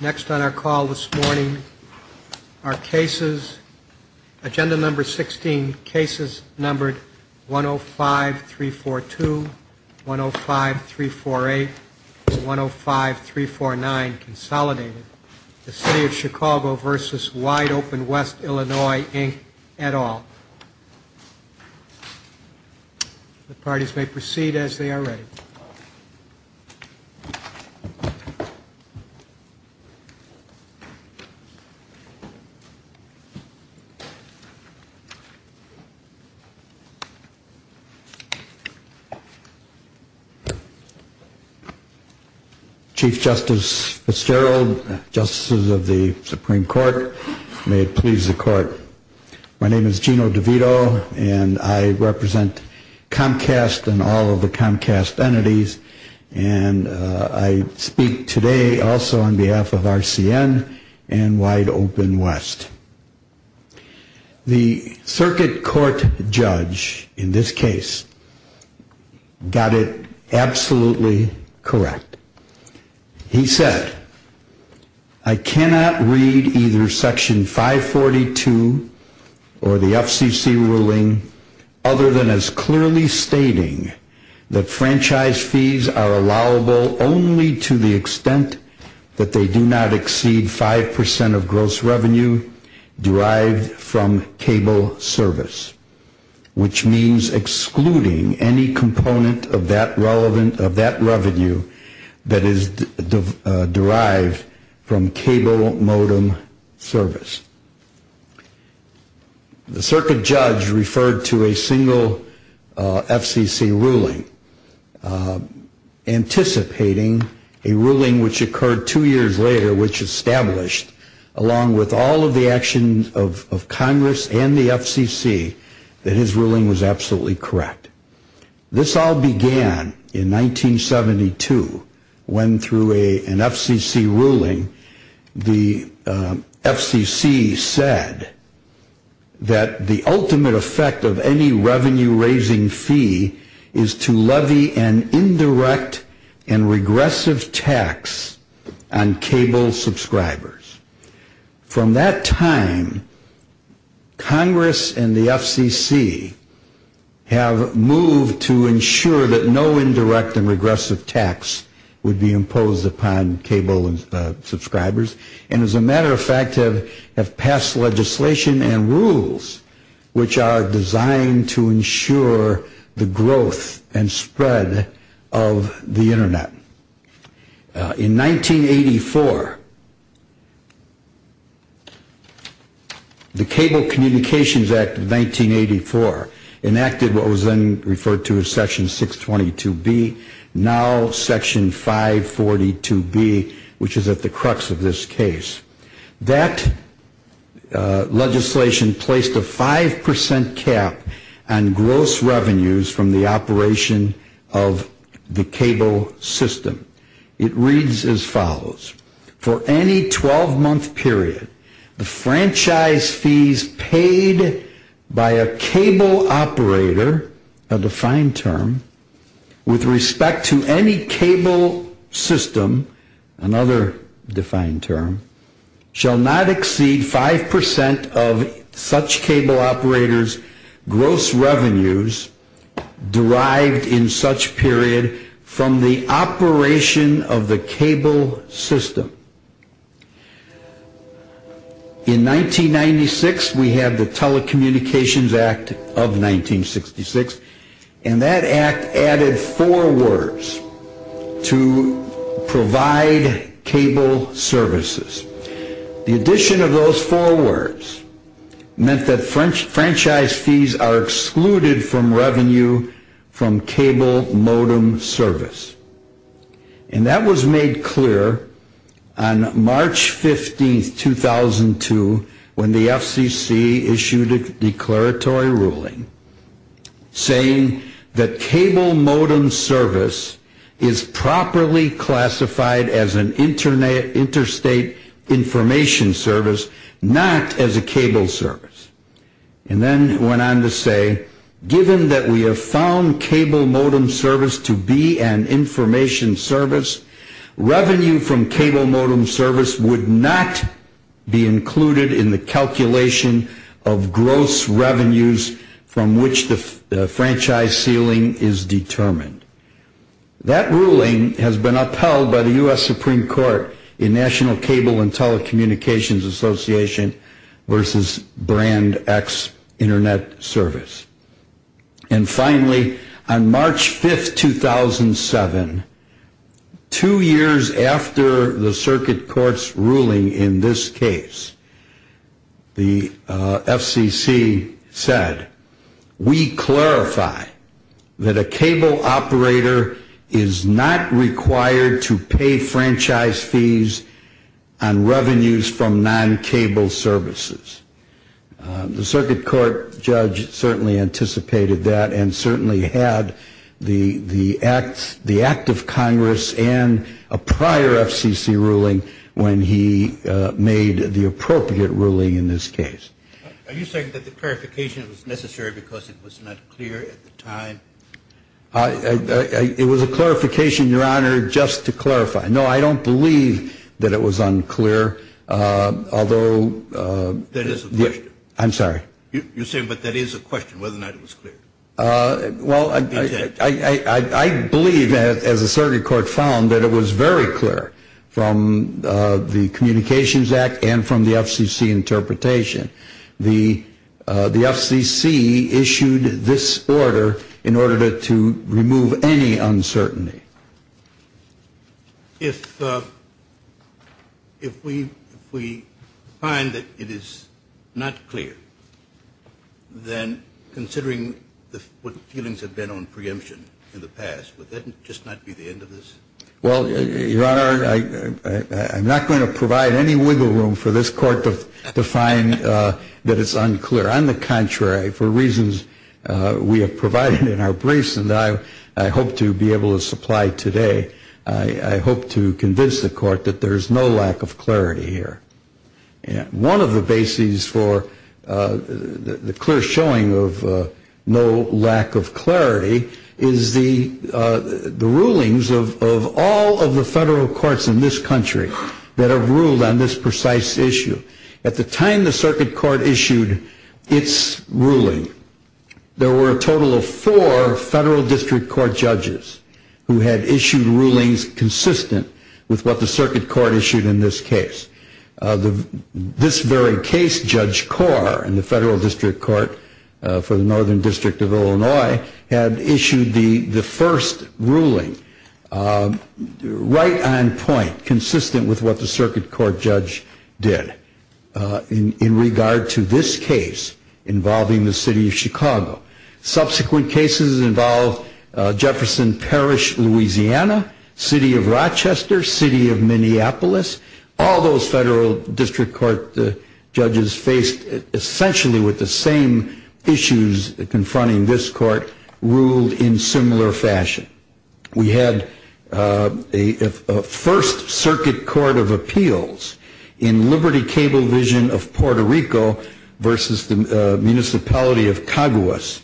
Next on our call this morning are cases, agenda number 16, cases numbered 105-342, 105-348, and 105-349 consolidated. The City of Chicago v. Wideopenwest Illinois, Inc. et al. The parties may proceed as they are ready. Chief Justice Fitzgerald, Justices of the Supreme Court, may it please the Court. My name is Gino DeVito and I represent Comcast and all of the Comcast entities and I speak today also on behalf of RCN and Wideopenwest. The circuit court judge in this case got it absolutely correct. He said, I cannot read either Section 542 or the FCC ruling other than as clearly stating that franchise fees are allowable only to the extent that they do not exceed 5% of gross revenue derived from cable service. Which means excluding any component of that revenue that is derived from cable modem service. The circuit judge referred to a single FCC ruling anticipating a ruling which occurred two years later which established along with all of the actions of Congress and the FCC that his ruling was absolutely correct. This all began in 1972 when through an FCC ruling the FCC said that the ultimate effect of any revenue raising fee is to levy an indirect and regressive tax on cable subscribers. From that time, Congress and the FCC have moved to ensure that no indirect and regressive tax would be imposed upon cable subscribers and as a matter of fact have passed legislation and rules which are designed to ensure the growth and spread of the Internet. In 1984, the Cable Communications Act of 1984 enacted what was then referred to as Section 622B, now Section 542B which is at the crux of this case. That legislation placed a 5% cap on gross revenues from the operation of the cable system. It reads as follows, for any 12-month period, the franchise fees paid by a cable operator, a defined term, with respect to any cable system, another defined term, shall not exceed 5% of such cable operator's gross revenues derived in such period from the operation of the cable system. In 1996, we have the Telecommunications Act of 1966 and that act added four words to provide cable services. The addition of those four words meant that franchise fees are excluded from revenue from cable modem service. And that was made clear on March 15, 2002 when the FCC issued a declaratory ruling saying that cable modem service is properly classified as an interstate information service, not as a cable service. And then it went on to say, given that we have found cable modem service to be an information service, revenue from cable modem service would not be included in the calculation of gross revenues from which the franchise ceiling is determined. That ruling has been upheld by the U.S. Supreme Court in National Cable and Telecommunications Association v. Brand X Internet Service. And finally, on March 5, 2007, two years after the circuit court's ruling in this case, the FCC said, we clarify that a cable operator is not required to pay franchise fees on revenues from non-cable services. The circuit court judge certainly anticipated that and certainly had the act of Congress and a prior FCC ruling when he made the appropriate ruling in this case. Are you saying that the clarification was necessary because it was not clear at the time? It was a clarification, Your Honor, just to clarify. No, I don't believe that it was unclear, although... That is a question. I'm sorry. You're saying, but that is a question, whether or not it was clear. Well, I believe, as the circuit court found, that it was very clear from the Communications Act and from the FCC interpretation. The FCC issued this order in order to remove any uncertainty. If we find that it is not clear, then considering what feelings have been on preemption in the past, would that just not be the end of this? Well, Your Honor, I'm not going to provide any wiggle room for this Court to find that it's unclear. On the contrary, for reasons we have provided in our briefs and I hope to be able to supply today, I hope to convince the Court that there is no lack of clarity here. One of the bases for the clear showing of no lack of clarity is the rulings of all of the federal courts in this country that have ruled on this precise issue. At the time the circuit court issued its ruling, there were a total of four federal district court judges who had issued rulings consistent with what the circuit court issued in this case. This very case, Judge Carr in the federal district court for the Northern District of Illinois, had issued the first ruling right on point, consistent with what the circuit court judge did. In regard to this case involving the City of Chicago, subsequent cases involve Jefferson Parish, Louisiana, City of Rochester, City of Minneapolis. All those federal district court judges faced essentially with the same issues confronting this court ruled in similar fashion. We had a first circuit court of appeals in Liberty Cablevision of Puerto Rico versus the municipality of Caguas.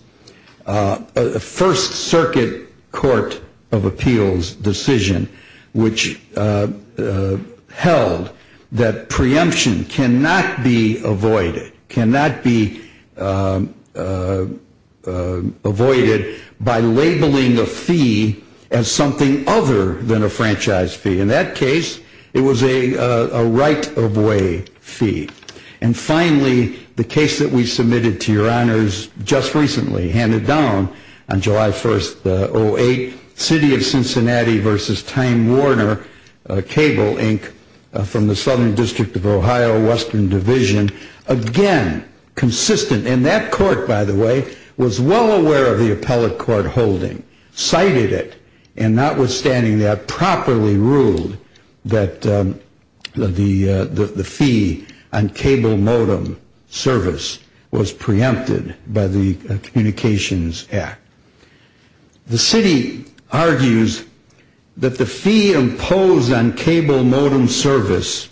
A first circuit court of appeals decision which held that preemption cannot be avoided by labeling a fee as something other than a franchise fee. In that case, it was a right of way fee. And finally, the case that we submitted to your honors just recently, handed down on July 1st, 2008, City of Cincinnati versus Time Warner Cable Inc. from the Southern District of Ohio Western Division. Again, consistent. And that court, by the way, was well aware of the appellate court holding, cited it, and notwithstanding that, properly ruled that the fee on cable modem service was preempted by the Communications Act. The city argues that the fee imposed on cable modem service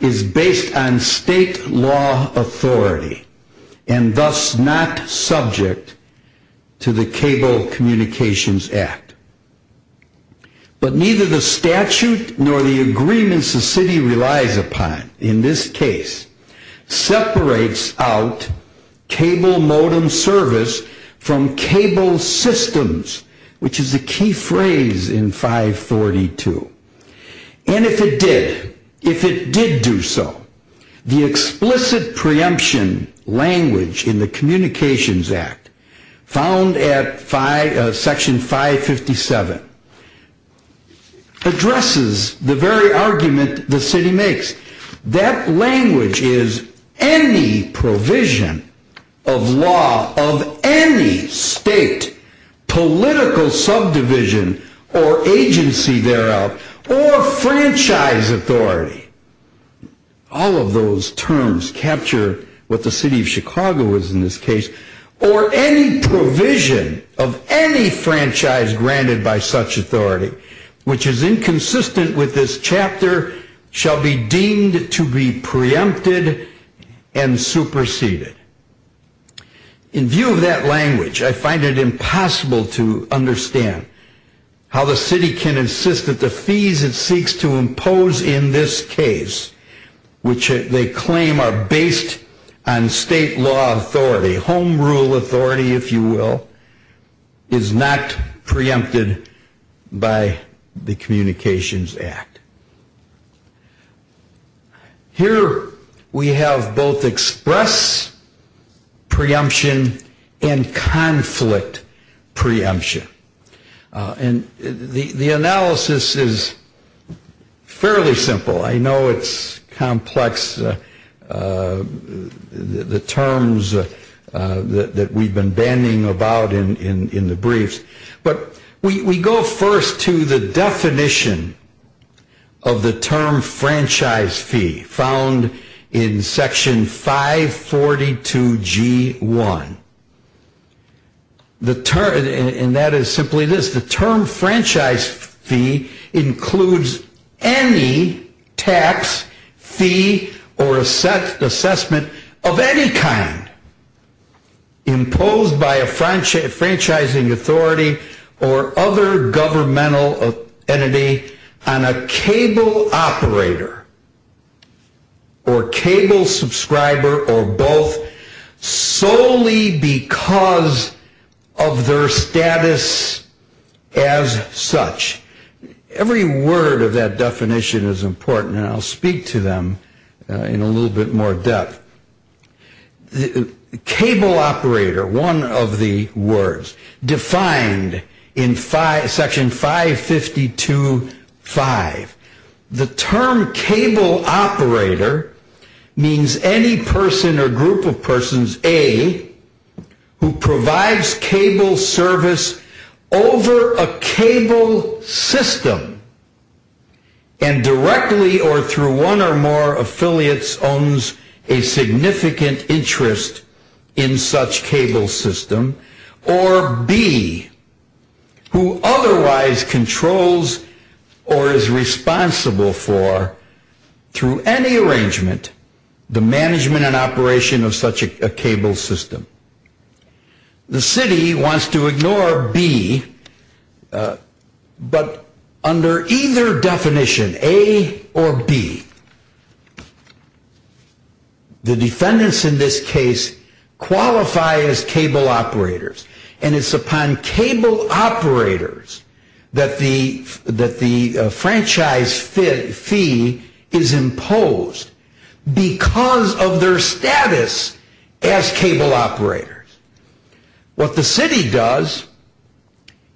is based on state law authority and thus not subject to the Cable Communications Act. But neither the statute nor the agreements the city relies upon in this case separates out cable modem service from cable systems, which is a key phrase in 542. And if it did, if it did do so, the explicit preemption language in the Communications Act, found at section 557, addresses the very argument the city makes. That language is any provision of law of any state, political subdivision, or agency thereof, or franchise authority. All of those terms capture what the city of Chicago is in this case. Or any provision of any franchise granted by such authority, which is inconsistent with this chapter, shall be deemed to be preempted and superseded. In view of that language, I find it impossible to understand how the city can insist that the fees it seeks to impose in this case, which they claim are based on state law authority, home rule authority, if you will, is not preempted by the Communications Act. Here we have both express preemption and conflict preemption. And the analysis is fairly simple. I know it's complex, the terms that we've been bandying about in the briefs. But we go first to the definition of the term franchise fee found in section 542G1. And that is simply this. The term franchise fee includes any tax, fee, or assessment of any kind imposed by a franchising authority or other governmental entity on a cable operator or cable subscriber, or both, solely because of their status as such. Every word of that definition is important, and I'll speak to them in a little bit more depth. Cable operator, one of the words, defined in section 552.5. The term cable operator means any person or group of persons, A, who provides cable service over a cable system and directly or through one or more affiliates owns a significant interest in such cable system, or B, who otherwise controls or is responsible for, through any arrangement, the management and operation of such a cable system. The city wants to ignore B, but under either definition, A or B, the defendants in this case qualify as cable operators. And it's upon cable operators that the franchise fee is imposed because of their status as cable operators. What the city does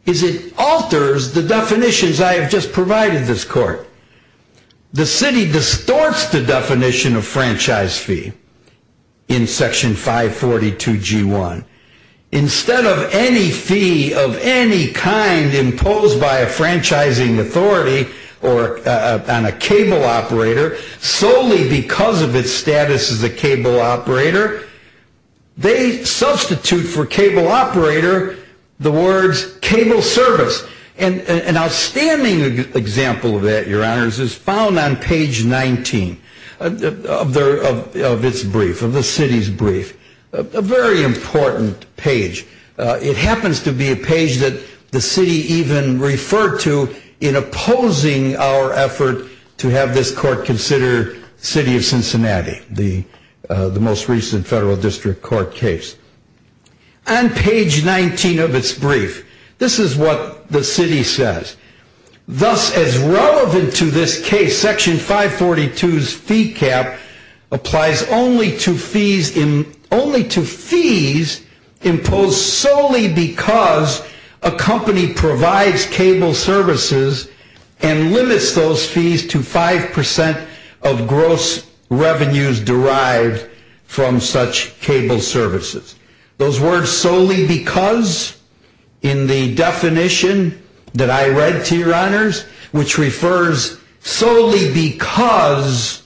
is it alters the definitions I have just provided this court. The city distorts the definition of franchise fee in section 542.1. Instead of any fee of any kind imposed by a franchising authority on a cable operator, solely because of its status as a cable operator, they substitute for cable operator the words cable service. An outstanding example of that, your honors, is found on page 19 of its brief, of the city's brief. A very important page. It happens to be a page that the city even referred to in opposing our effort to have this court consider the city of Cincinnati, the most recent federal district court case. On page 19 of its brief, this is what the city says. Thus, as relevant to this case, section 542's fee cap applies only to fees imposed solely because a company provides cable services and limits those fees to 5% of gross revenues derived from such cable services. Those words solely because, in the definition that I read to your honors, which refers solely because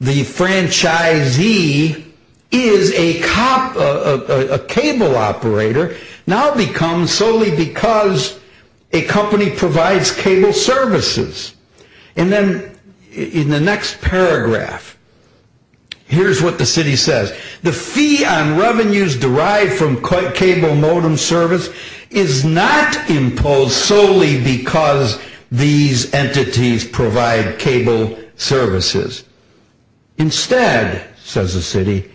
the franchisee is a cable operator, now becomes solely because a company provides cable services. And then, in the next paragraph, here's what the city says. The fee on revenues derived from cable modem service is not imposed solely because these entities provide cable services. Instead, says the city,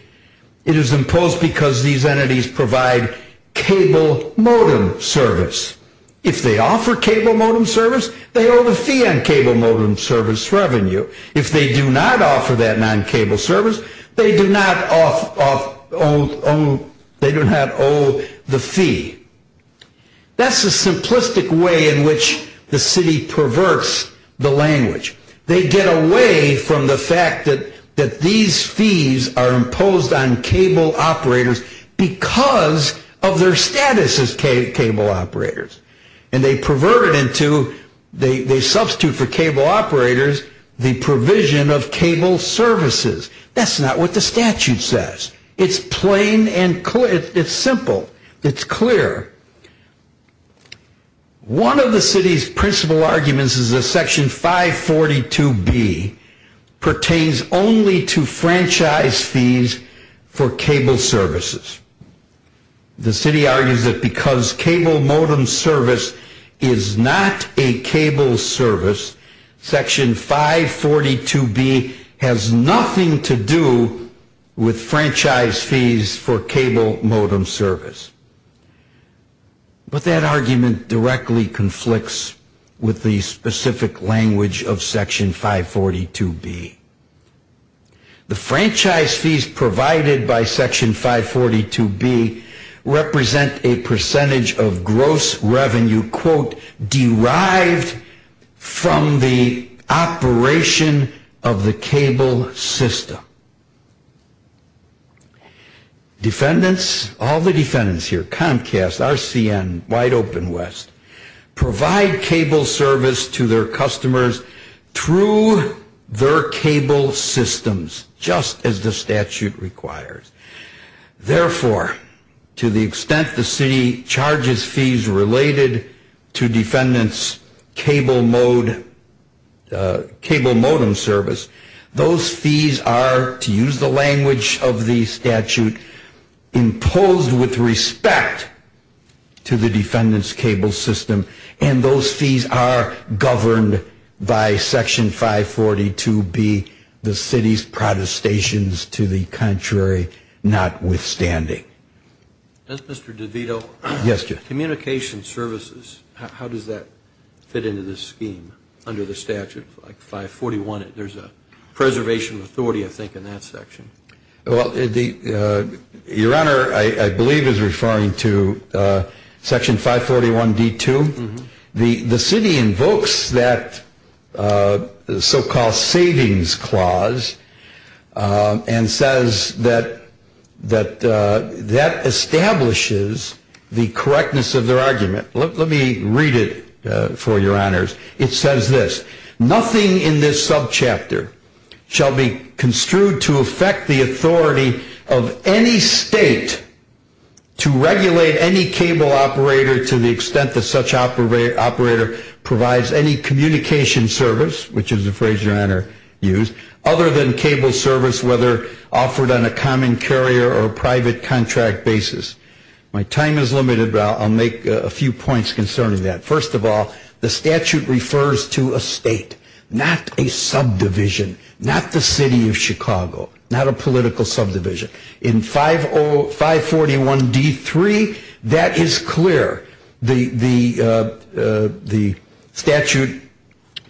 it is imposed because these entities provide cable modem service. If they offer cable modem service, they owe the fee on cable modem service revenue. If they do not offer that non-cable service, they do not owe the fee. That's the simplistic way in which the city perverts the language. They get away from the fact that these fees are imposed on cable operators because of their status as cable operators. And they pervert it into, they substitute for cable operators, the provision of cable services. That's not what the statute says. It's plain and clear. It's simple. It's clear. One of the city's principal arguments is that Section 542B pertains only to franchise fees for cable services. The city argues that because cable modem service is not a cable service, Section 542B has nothing to do with franchise fees for cable modem service. But that argument directly conflicts with the specific language of Section 542B. The franchise fees provided by Section 542B represent a percentage of gross revenue, quote, derived from the operation of the cable system. Defendants, all the defendants here, Comcast, RCN, Wide Open West, provide cable service to their customers through their cable systems, just as the statute requires. Therefore, to the extent the city charges fees related to defendants' cable modem service, those fees are, to use the language of the statute, imposed with respect to the defendants' cable system. And those fees are governed by Section 542B, the city's protestations to the contrary notwithstanding. Does Mr. DeVito? Yes, Jeff. Communication services, how does that fit into this scheme under the statute, like 541? There's a preservation authority, I think, in that section. Well, your Honor, I believe is referring to Section 541D2. The city invokes that so-called savings clause and says that that establishes the correctness of their argument. Let me read it for your Honors. It says this, nothing in this subchapter shall be construed to affect the authority of any state to regulate any cable operator to the extent that such operator provides any communication service, which is the phrase your Honor used, other than cable service, whether offered on a common carrier or private contract basis. My time is limited, but I'll make a few points concerning that. First of all, the statute refers to a state, not a subdivision, not the city of Chicago, not a political subdivision. In 541D3, that is clear. The statute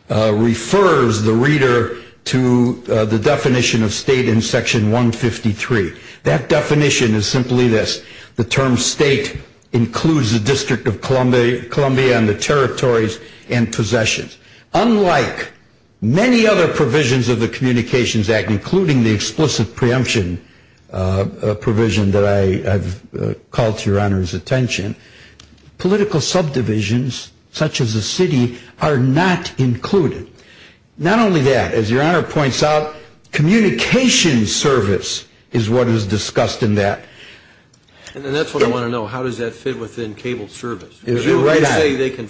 refers the reader to the definition of state in Section 153. That definition is simply this. The term state includes the District of Columbia and the territories and possessions. Unlike many other provisions of the Communications Act, including the explicit preemption provision that I've called to your Honor's attention, political subdivisions, such as the city, are not included. Not only that, as your Honor points out, communications service is what is discussed in that. And that's what I want to know. How does that fit within cable service? They can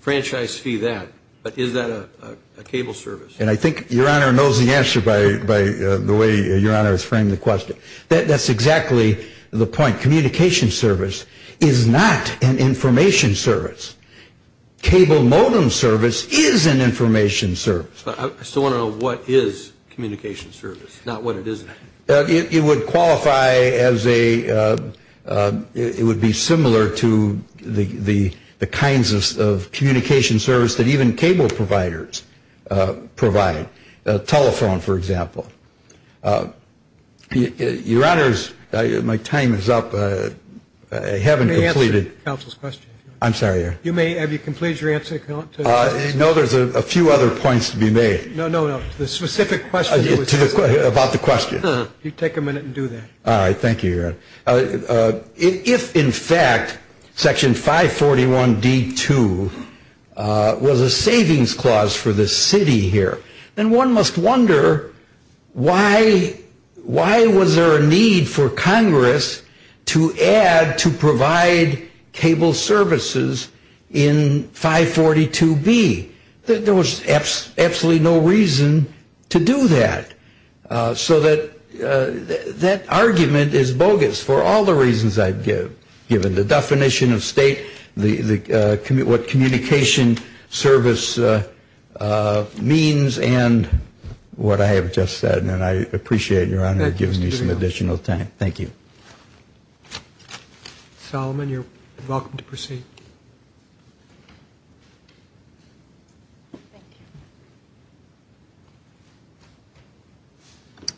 franchise fee that, but is that a cable service? And I think your Honor knows the answer by the way your Honor has framed the question. That's exactly the point. Communication service is not an information service. Cable modem service is an information service. I still want to know what is communication service, not what it isn't. It would qualify as a, it would be similar to the kinds of communication service that even cable providers provide. Telephone, for example. Your Honor's, my time is up. I haven't completed. Let me answer counsel's question. I'm sorry. Have you completed your answer? No, there's a few other points to be made. No, no, no. The specific question. About the question. You take a minute and do that. All right, thank you, your Honor. If, in fact, section 541D2 was a savings clause for the city here, then one must wonder why was there a need for Congress to add to provide cable services in 542B? There was absolutely no reason to do that. So that argument is bogus for all the reasons I've given. The definition of state, what communication service means, and what I have just said. And I appreciate your Honor giving me some additional time. Thank you. Solomon, you're welcome to proceed. Thank you.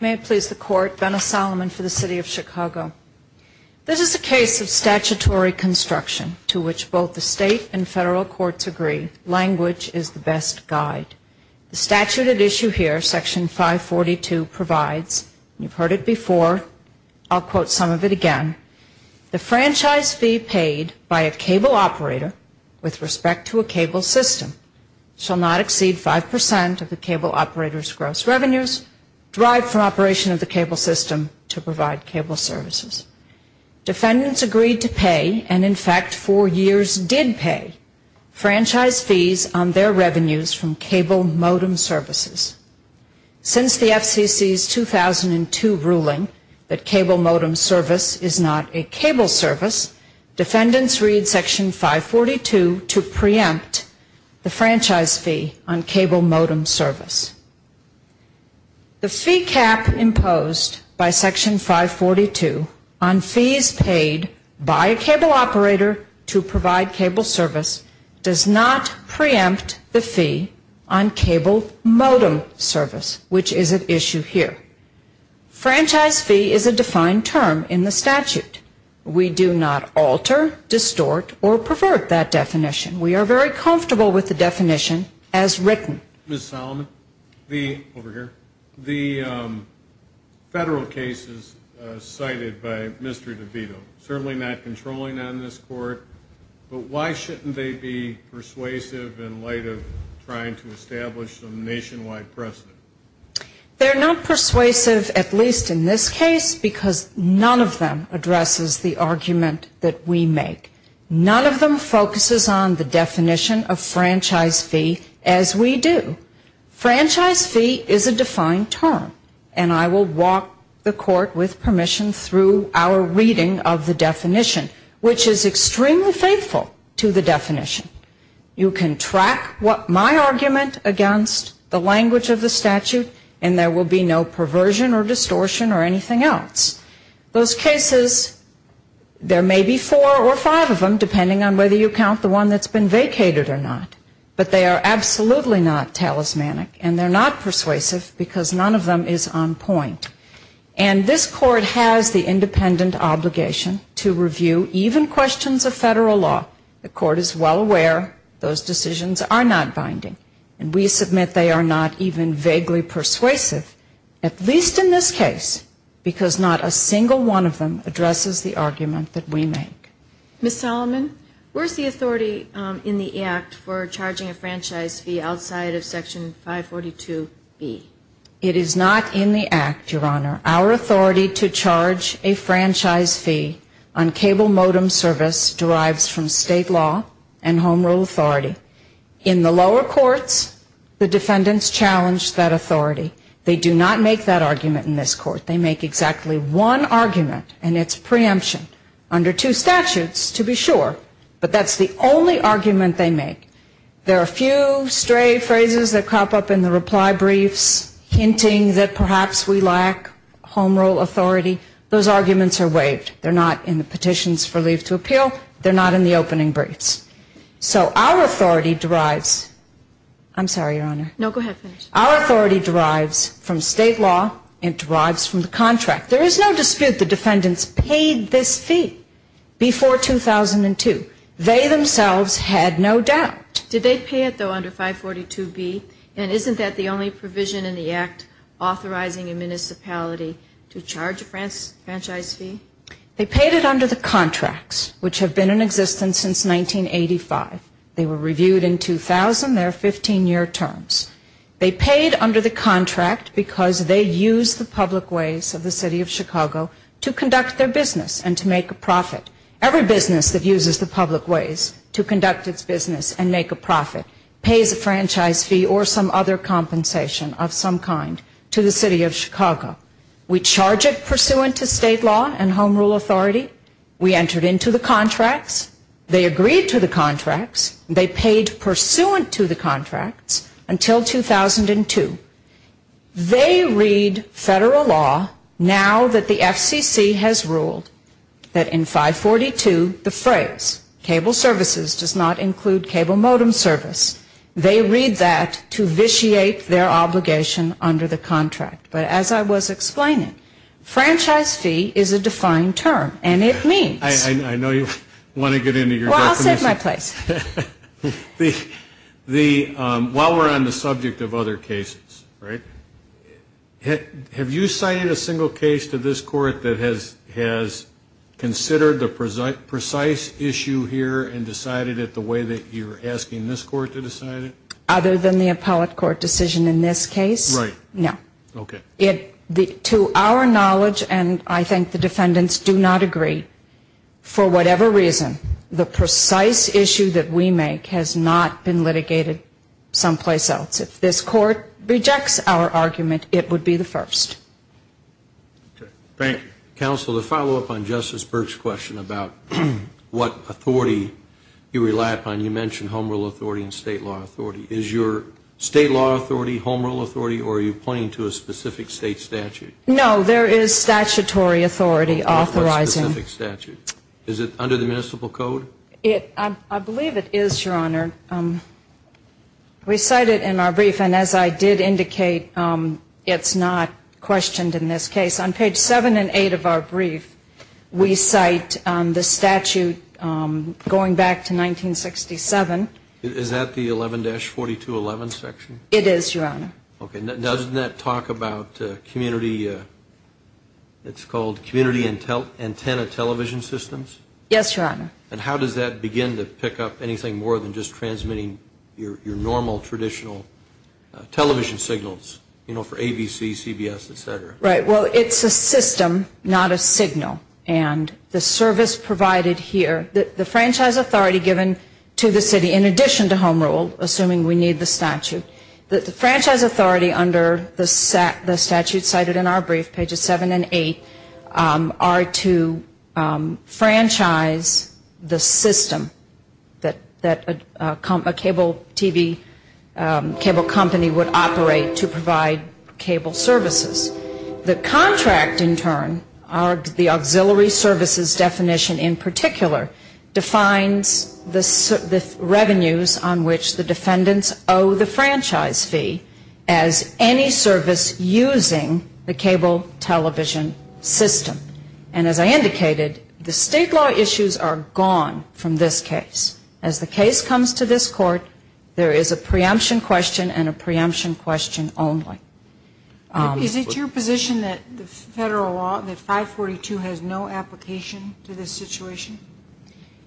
May it please the Court. Benna Solomon for the City of Chicago. This is a case of statutory construction to which both the state and federal courts agree language is the best guide. The statute at issue here, section 542, provides, and you've heard it before, I'll quote some of it again, the franchise fee paid by a cable operator with respect to a cable system shall not exceed 5% of the cable operator's gross revenues derived from operation of the cable system to provide cable services. Defendants agreed to pay, and in fact for years did pay, franchise fees on their revenues from cable modem services. Since the FCC's 2002 ruling that cable modem service is not a cable service, defendants read section 542 to preempt the franchise fee on cable modem service. The fee cap imposed by section 542 on fees paid by a cable operator to provide cable service does not preempt the fee on cable modem service, which is at issue here. Franchise fee is a defined term in the statute. We do not alter, distort, or pervert that definition. We are very comfortable with the definition as written. Ms. Solomon, the federal cases cited by Mr. DeVito, certainly not controlling on this court, but why shouldn't they be persuasive in light of trying to establish some nationwide precedent? They're not persuasive, at least in this case, because none of them addresses the argument that we make. None of them focuses on the definition of franchise fee as we do. Franchise fee is a defined term, and I will walk the court with permission through our reading of the definition, which is extremely faithful to the definition. You can track my argument against the language of the statute, and there will be no perversion or distortion or anything else. Those cases, there may be four or five of them, depending on whether you count the one that's been vacated or not, but they are absolutely not talismanic, and they're not persuasive because none of them is on point. And this court has the independent obligation to review even questions of federal law. The court is well aware those decisions are not binding, and we submit they are not even vaguely persuasive, at least in this case, because not a single one of them addresses the argument that we make. Ms. Solomon, where's the authority in the Act for charging a franchise fee outside of Section 542B? It is not in the Act, Your Honor. Our authority to charge a franchise fee on cable modem service derives from state law and home rule authority. In the lower courts, the defendants challenge that authority. They do not make that argument in this court. They make exactly one argument, and it's preemption. Under two statutes, to be sure, but that's the only argument they make. There are a few stray phrases that crop up in the reply briefs, hinting that perhaps we lack home rule authority. Those arguments are waived. They're not in the petitions for leave to appeal. They're not in the opening briefs. So our authority derives. I'm sorry, Your Honor. No, go ahead. Our authority derives from state law. It derives from the contract. There is no dispute the defendants paid this fee before 2002. They themselves had no doubt. Did they pay it, though, under 542B? And isn't that the only provision in the Act authorizing a municipality to charge a franchise fee? They paid it under the contracts, which have been in existence since 1985. They were reviewed in 2000. They're 15-year terms. They paid under the contract because they used the public ways of the city of Chicago to conduct their business and to make a profit. Every business that uses the public ways to conduct its business and make a profit pays a franchise fee or some other compensation of some kind to the city of Chicago. We charge it pursuant to state law and home rule authority. They agreed to the contracts. They paid pursuant to the contracts until 2002. They read federal law now that the FCC has ruled that in 542 the phrase cable services does not include cable modem service, they read that to vitiate their obligation under the contract. But as I was explaining, franchise fee is a defined term, and it means. I know you want to get into your definition. This is my place. While we're on the subject of other cases, right, have you cited a single case to this court that has considered the precise issue here and decided it the way that you're asking this court to decide it? Other than the appellate court decision in this case? Right. No. Okay. To our knowledge, and I think the defendants do not agree, for whatever reason the precise issue that we make has not been litigated someplace else. If this court rejects our argument, it would be the first. Thank you. Counsel, to follow up on Justice Burke's question about what authority you rely upon, you mentioned home rule authority and state law authority. Is your state law authority home rule authority, or are you pointing to a specific state statute? No, there is statutory authority authorizing. Is it under the municipal code? I believe it is, Your Honor. We cite it in our brief, and as I did indicate, it's not questioned in this case. On page 7 and 8 of our brief, we cite the statute going back to 1967. Is that the 11-4211 section? It is, Your Honor. Okay. Doesn't that talk about community, it's called community antenna television systems? Yes, Your Honor. And how does that begin to pick up anything more than just transmitting your normal, traditional television signals, you know, for ABC, CBS, et cetera? Right. Well, it's a system, not a signal. And the service provided here, the franchise authority given to the city, in addition to home rule, assuming we need the statute, the franchise authority under the statute cited in our brief, pages 7 and 8, are to franchise the system that a cable TV, cable company would operate to provide cable services. The contract in turn, the auxiliary services definition in particular, defines the revenues on which the defendants owe the franchise fee as any service using the cable television system. And as I indicated, the state law issues are gone from this case. As the case comes to this court, there is a preemption question and a preemption question only. Is it your position that the federal law, that 542 has no application to this situation?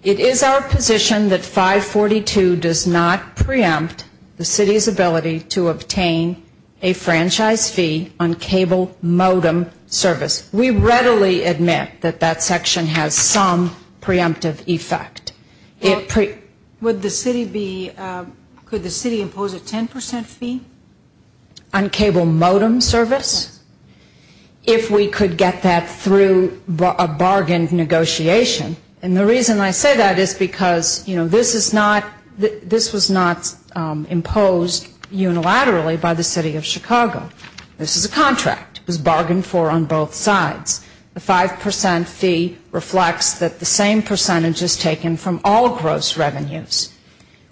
It is our position that 542 does not preempt the city's ability to obtain a franchise fee on cable modem service. We readily admit that that section has some preemptive effect. Would the city be, could the city impose a 10% fee? On cable modem service? If we could get that through a bargain negotiation. And the reason I say that is because, you know, this is not, this was not imposed unilaterally by the city of Chicago. This is a contract. It was bargained for on both sides. The 5% fee reflects that the same percentage is taken from all gross revenues.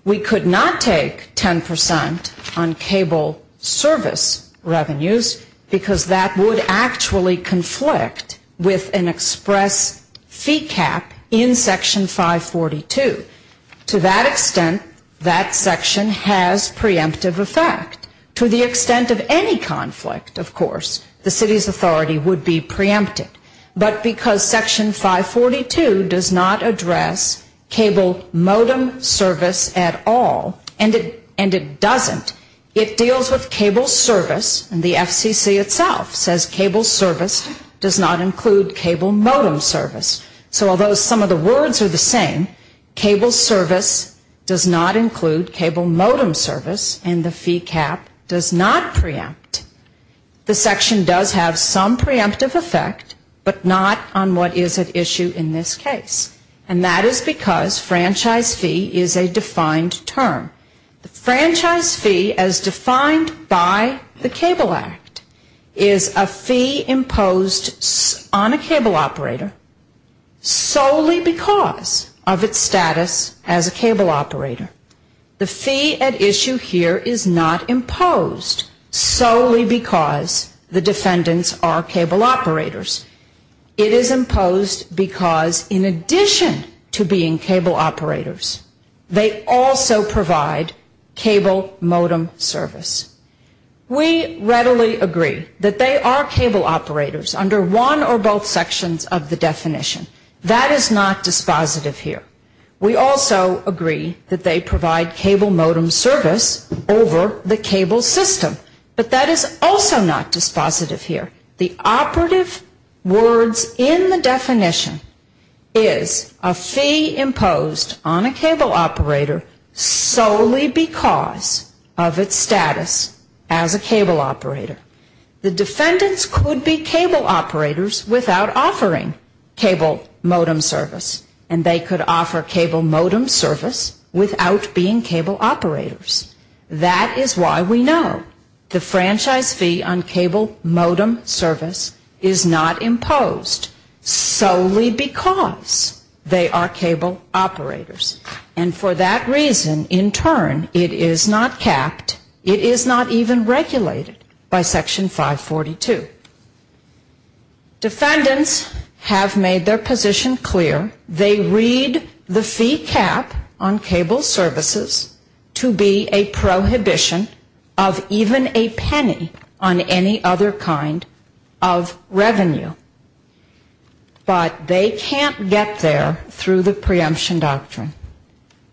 We could not take 10% on cable service revenues because that would actually conflict with an express fee cap in Section 542. To that extent, that section has preemptive effect. To the extent of any conflict, of course, the city's authority would be preempted. But because Section 542 does not address cable modem service at all, and it doesn't, it deals with cable service, and the FCC itself says cable service does not include cable modem service. So although some of the words are the same, cable service does not include cable modem service, and the fee cap does not preempt. The section does have some preemptive effect, but not on what is at issue in this case. And that is because franchise fee is a defined term. The franchise fee as defined by the Cable Act is a fee imposed on a cable operator solely because of its status as a cable operator. The fee at issue here is not imposed solely because the defendants are cable operators. It is imposed because in addition to being cable operators, they also provide cable modem service. We readily agree that they are cable operators under one or both sections of the definition. That is not dispositive here. We also agree that they provide cable modem service over the cable system, but that is also not dispositive here. The operative words in the definition is a fee imposed on a cable operator solely because of its status as a cable operator. The defendants could be cable operators without offering cable modem service, and they could offer cable modem service without being cable operators. That is why we know the franchise fee on cable modem service is not imposed solely because they are cable operators. And for that reason, in turn, it is not capped, it is not even regulated by Section 542. Defendants have made their position clear. They read the fee cap on cable services to be a prohibition of even a penny on any other kind of revenue. But they can't get there through the preemption doctrine.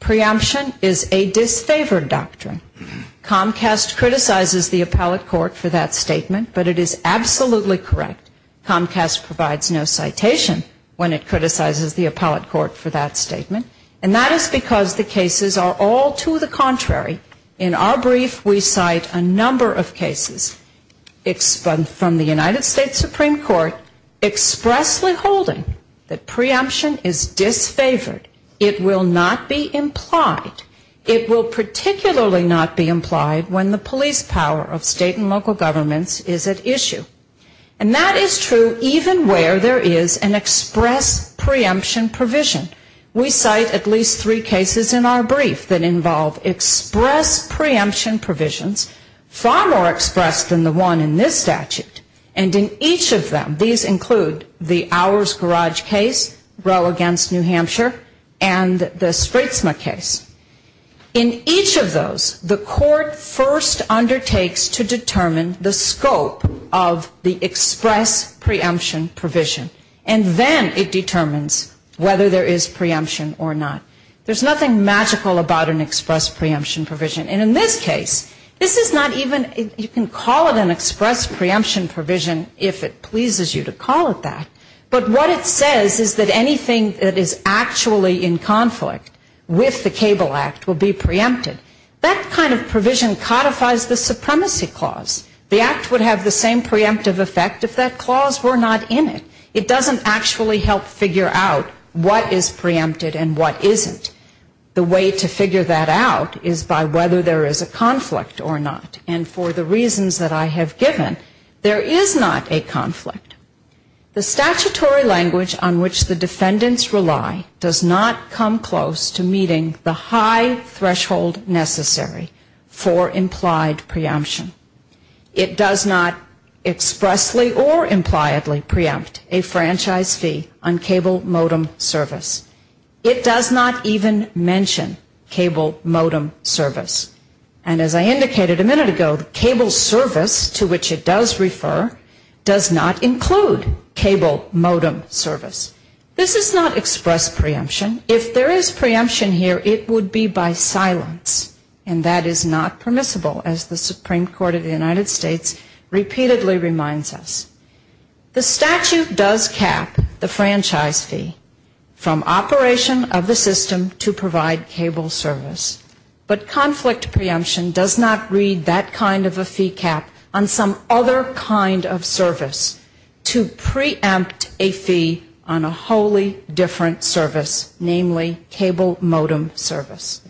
Preemption is a disfavored doctrine. Comcast criticizes the appellate court for that statement, but it is absolutely correct. Comcast provides no citation when it criticizes the appellate court for that statement, and that is because the cases are all to the contrary. In our brief, we cite a number of cases from the United States Supreme Court expressly holding that preemption is disfavored. It will not be implied. It will particularly not be implied when the police power of state and local governments is at issue. And that is true even where there is an express preemption provision. We cite at least three cases in our brief that involve express preemption provisions, far more express than the one in this statute. And in each of them, these include the Ours Garage case, Roe against New Hampshire, and the Spritzma case. In each of those, the court first undertakes to determine the scope of the express preemption provision. And then it determines whether there is preemption or not. There's nothing magical about an express preemption provision. And in this case, this is not even you can call it an express preemption provision if it pleases you to call it that. But what it says is that anything that is actually in conflict with the Cable Act will be preempted. That kind of provision codifies the supremacy clause. The act would have the same preemptive effect if that clause were not in it. It doesn't actually help figure out what is preempted and what isn't. The way to figure that out is by whether there is a conflict or not. And for the reasons that I have given, there is not a conflict. The statutory language on which the defendants rely does not come close to meeting the high threshold necessary for implied preemption. It does not expressly or impliedly preempt a franchise fee on cable modem service. It does not even mention cable modem service. And as I indicated a minute ago, the cable service to which it does refer does not include cable modem service. This is not express preemption. If there is preemption here, it would be by silence, and that is not permissible, as the Supreme Court of the United States repeatedly reminds us. The statute does cap the franchise fee from operation of the system to provide cable service, but conflict preemption does not read that kind of a fee cap on some other kind of service to preempt a fee on a wholly different service, namely cable modem service.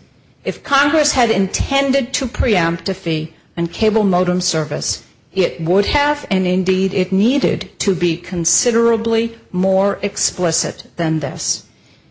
If Congress had intended to preempt a fee on cable modem service, it would have, and indeed it needed, preempt a fee on a whole different service.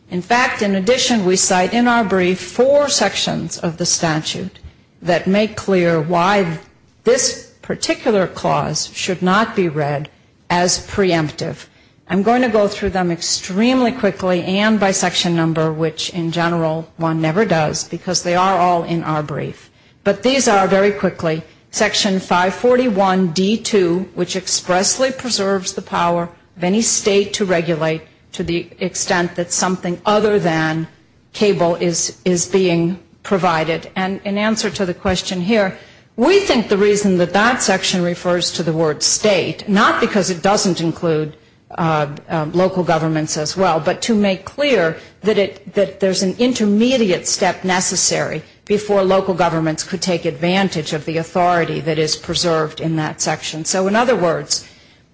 In fact, in addition, we cite in our brief four sections of the statute that make clear why this particular clause should not be read as preemptive. I'm going to go through them extremely quickly and by section number, which in general one never does, because they are all in our brief. But these are, very quickly, section 541D2, which expressly preserves the power of any state to regulate to the extent that something other than cable is being provided. And in answer to the question here, we think the reason that that section refers to the word state, not because it doesn't include local governments as well, but to make clear that there's an intermediate step necessary before local governments are able to take advantage of the authority that is preserved in that section. So in other words,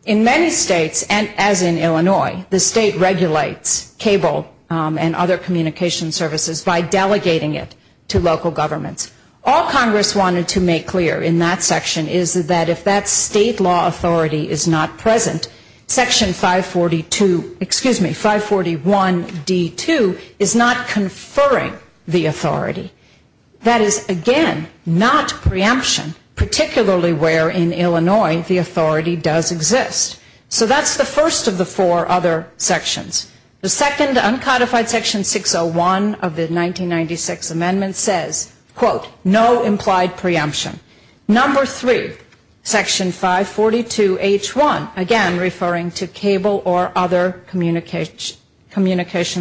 in many states, as in Illinois, the state regulates cable and other communication services by delegating it to local governments. All Congress wanted to make clear in that section is that if that state law authority is not present, section 542, excuse me, 541D2 is not conferring the authority. That is, again, not preemption, particularly where in Illinois the authority does exist. So that's the first of the four other sections. The second, uncodified section 601 of the 1996 amendment says, quote, no implied preemption. Number three, section 542H1, again, referring to cable or other communication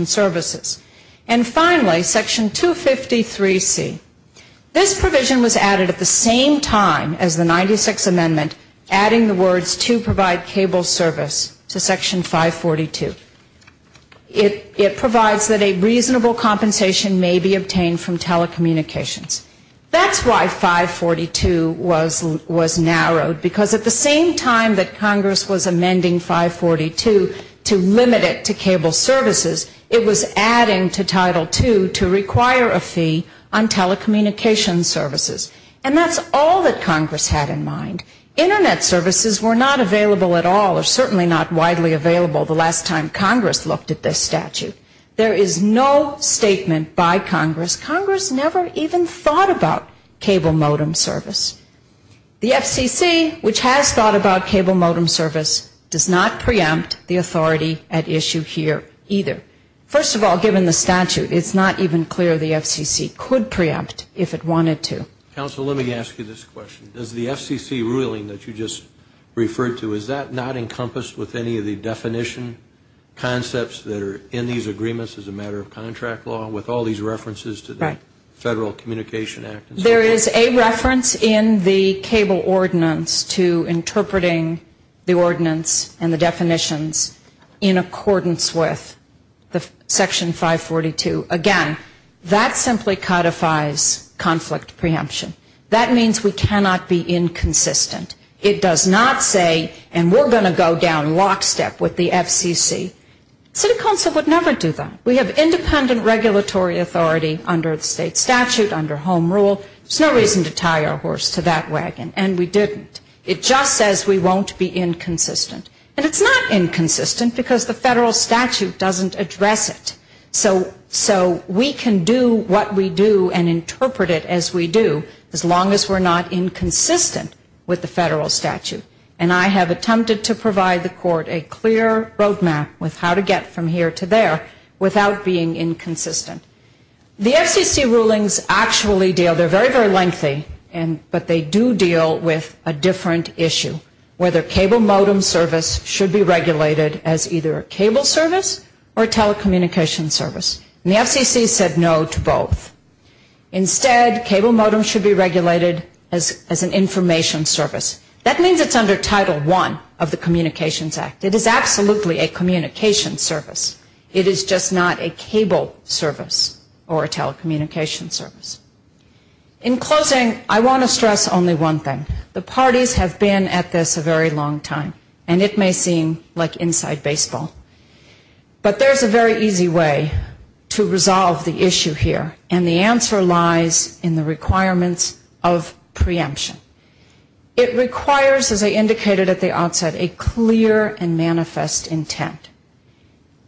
services. And finally, section 253C. This provision was added at the same time as the 96 amendment, adding the words to provide cable service to section 542. It provides that a reasonable compensation may be obtained from telecommunications. That's why 542 was narrowed, because at the same time that Congress was amending 542 to limit it to cable services, it was adding to Title II to require a fee on telecommunications services. And that's all that Congress had in mind. Internet services were not available at all, or certainly not widely available the last time Congress looked at this statute. There is no statement by Congress, Congress never even thought about cable modem service. The FCC, which has thought about cable modem service, does not preempt the authority at issue here either. First of all, given the statute, it's not even clear the FCC could preempt if it wanted to. Counsel, let me ask you this question. Does the FCC ruling that you just referred to, is that not encompassed with any of the definition concepts that are in these agreements as a matter of contract law, with all these references to the Federal Communication Act? There is a reference in the cable ordinance to interpreting the ordinance and the definitions in accordance with the Federal Communications Act. Section 542, again, that simply codifies conflict preemption. That means we cannot be inconsistent. It does not say, and we're going to go down lockstep with the FCC. City Council would never do that. We have independent regulatory authority under the state statute, under home rule. There's no reason to tie our horse to that wagon, and we didn't. It just says we won't be inconsistent. And it's not inconsistent because the federal statute doesn't address it. So we can do what we do and interpret it as we do, as long as we're not inconsistent with the federal statute. And I have attempted to provide the court a clear roadmap with how to get from here to there without being inconsistent. The FCC rulings actually deal, they're very, very lengthy, but they do deal with a different issue, whether cable modem service should be regulated as either a cable service or telecommunications service. And the FCC said no to both. Instead, cable modems should be regulated as an information service. That means it's under Title I of the Communications Act. It is absolutely a communications service. It is just not a cable service or a telecommunications service. In closing, I want to stress only one thing. The parties have been at this a very long time, and it may seem like inside baseball. But there's a very easy way to resolve the issue here, and the answer lies in the requirements of preemption. It requires, as I indicated at the outset, a clear and manifest intent.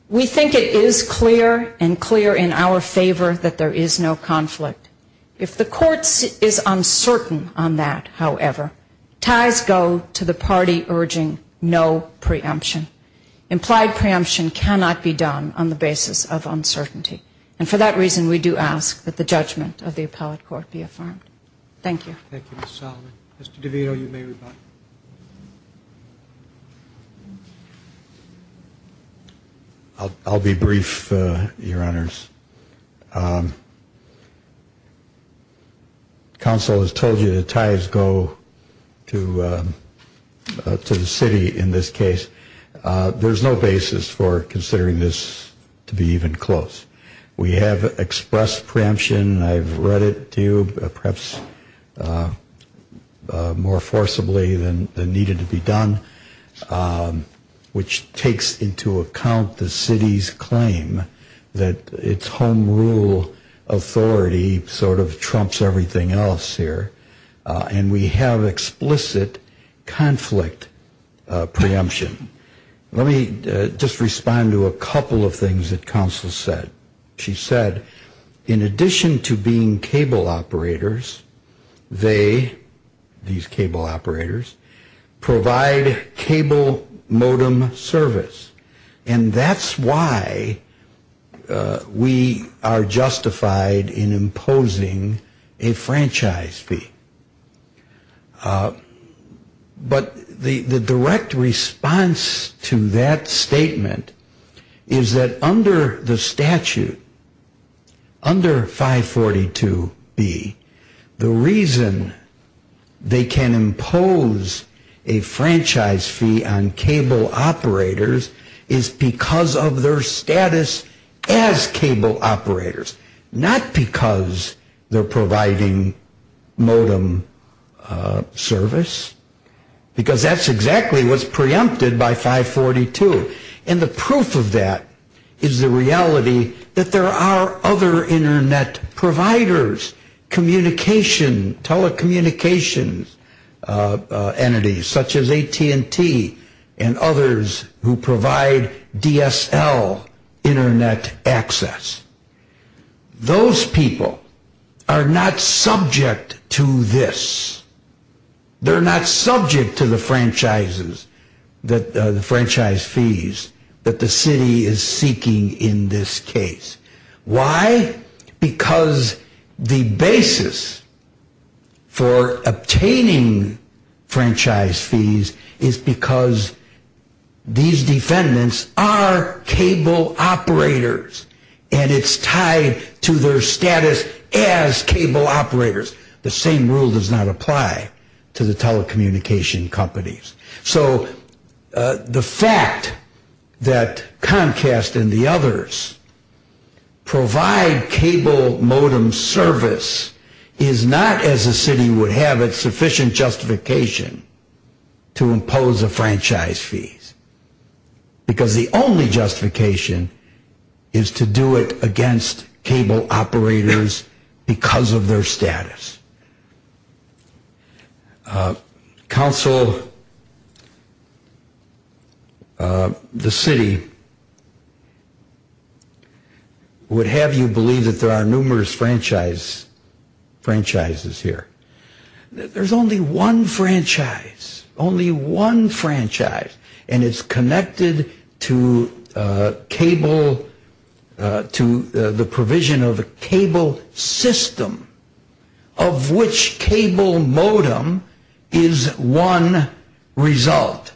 We think it is clear and clear in our favor that there is no conflict. If the court is uncertain on that, however, ties go to the party urging no preemption. Implied preemption cannot be done on the basis of uncertainty. And for that reason, we do ask that the judgment of the appellate court be affirmed. Thank you. I'll be brief, Your Honors. Counsel has told you that ties go to the city in this case. There's no basis for considering this to be even close. We have expressed preemption. I've read it to you, perhaps more forcibly than needed to be done, which takes into account the city's claim that its home rule authority sort of trumps everything else here. And we have explicit conflict preemption. Let me just respond to a couple of things that counsel said. She said, in addition to being cable operators, they, these cable operators, provide cable modem service. And that's why we are justified in imposing a franchise fee. But the direct response to that statement is that under the statute, under 542B, the reason they can impose a franchise fee on cable operators is because of their status as cable operators, not because they're providing modem service, because that's exactly what's preempted by 542. And the proof of that is the reality that there are other Internet providers, communication, telecommunications entities, such as AT&T and others who provide DSL Internet access. Those people are not subject to this. They're not subject to the franchises, the franchise fees that the city is seeking in this case. Why? Because the basis for obtaining franchise fees is because these defendants are cable operators, and it's tied to their status as cable operators. The same rule does not apply to the telecommunication companies. So the fact that Comcast and the others provide cable modem service is not, as the city would have it, sufficient justification to impose a franchise fee, because the only justification is to do it against cable operators because of their status. Council, the city, would have you believe that there are numerous franchises here. There's only one franchise, only one franchise, and it's connected to the provision of a cable system, of which cable modem is one result.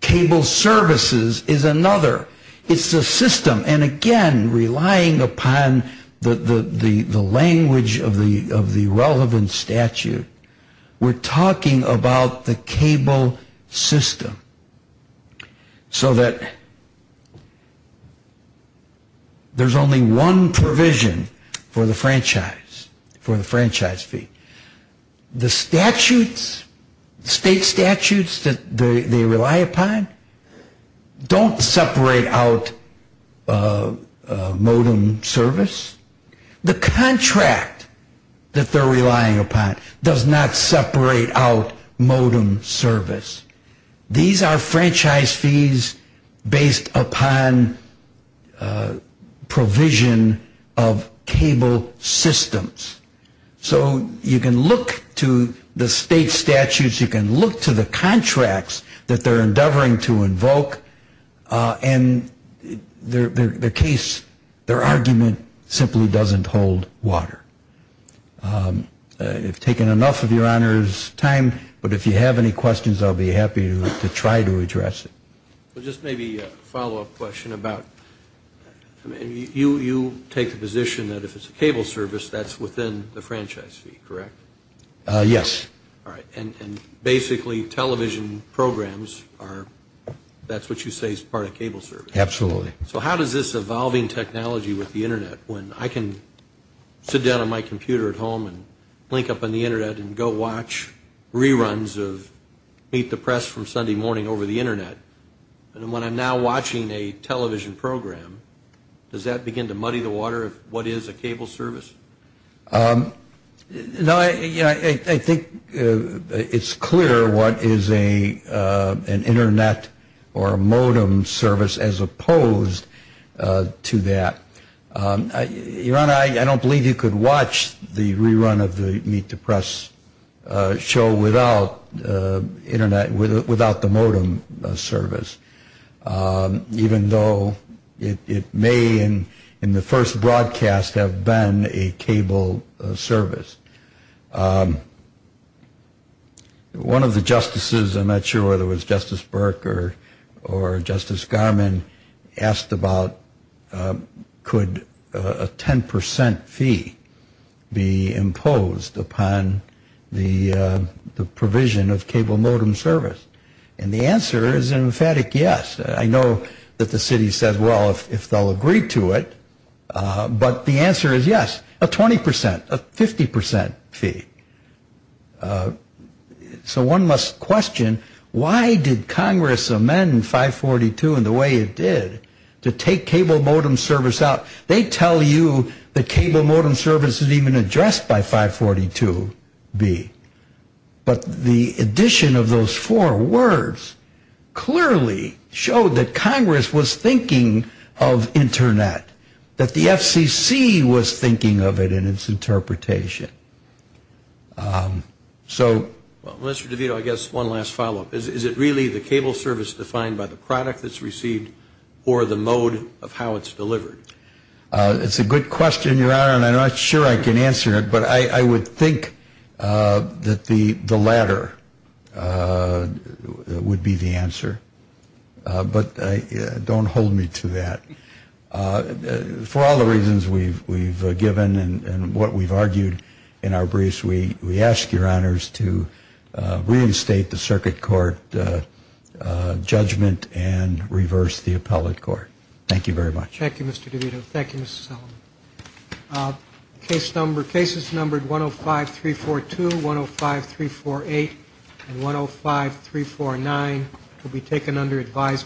Cable services is another. It's a system, and again, relying upon the language of the relevant statute, we're talking about the cable system, so that there's only one provision for the franchise, for the franchise fee. The statutes, state statutes that they rely upon, don't separate out modem service. The contract that they're relying upon does not separate out modem service. These are franchise fees based upon provision of cable systems. So you can look to the state statutes, you can look to the contracts that they're endeavoring to invoke, and their case, their argument, simply doesn't hold water. I've taken enough of Your Honor's time, but if you have any questions, I'll be happy to try to address it. Well, just maybe a follow-up question about, you take the position that if it's a cable service, that's within the franchise fee, correct? Yes. All right, and basically television programs are, that's what you say is part of cable service. Absolutely. Okay, so how does this evolving technology with the Internet, when I can sit down on my computer at home and blink up on the Internet and go watch reruns of Meet the Press from Sunday morning over the Internet, and when I'm now watching a television program, does that begin to muddy the water of what is a cable service? No, I think it's clear what is an Internet or a modem service as opposed to a cable service. I don't believe you could watch the rerun of the Meet the Press show without the modem service, even though it may, in the first broadcast, have been a cable service. One of the justices, I'm not sure whether it was Justice Burke or Justice Garmon, asked me a question about cable service. He asked about, could a 10% fee be imposed upon the provision of cable modem service? And the answer is an emphatic yes. I know that the city says, well, if they'll agree to it, but the answer is yes, a 20%, a 50% fee. So one must question, why did Congress amend 542 in the way it did to make it a 50% fee? To take cable modem service out, they tell you that cable modem service is even addressed by 542B. But the addition of those four words clearly showed that Congress was thinking of Internet, that the FCC was thinking of it in its interpretation. Well, Mr. DeVito, I guess one last follow up. I'm not sure I can answer it, but I would think that the latter would be the answer. But don't hold me to that. For all the reasons we've given and what we've argued in our briefs, we ask your honors to reinstate the circuit court judgment and reverse the case. Thank you very much.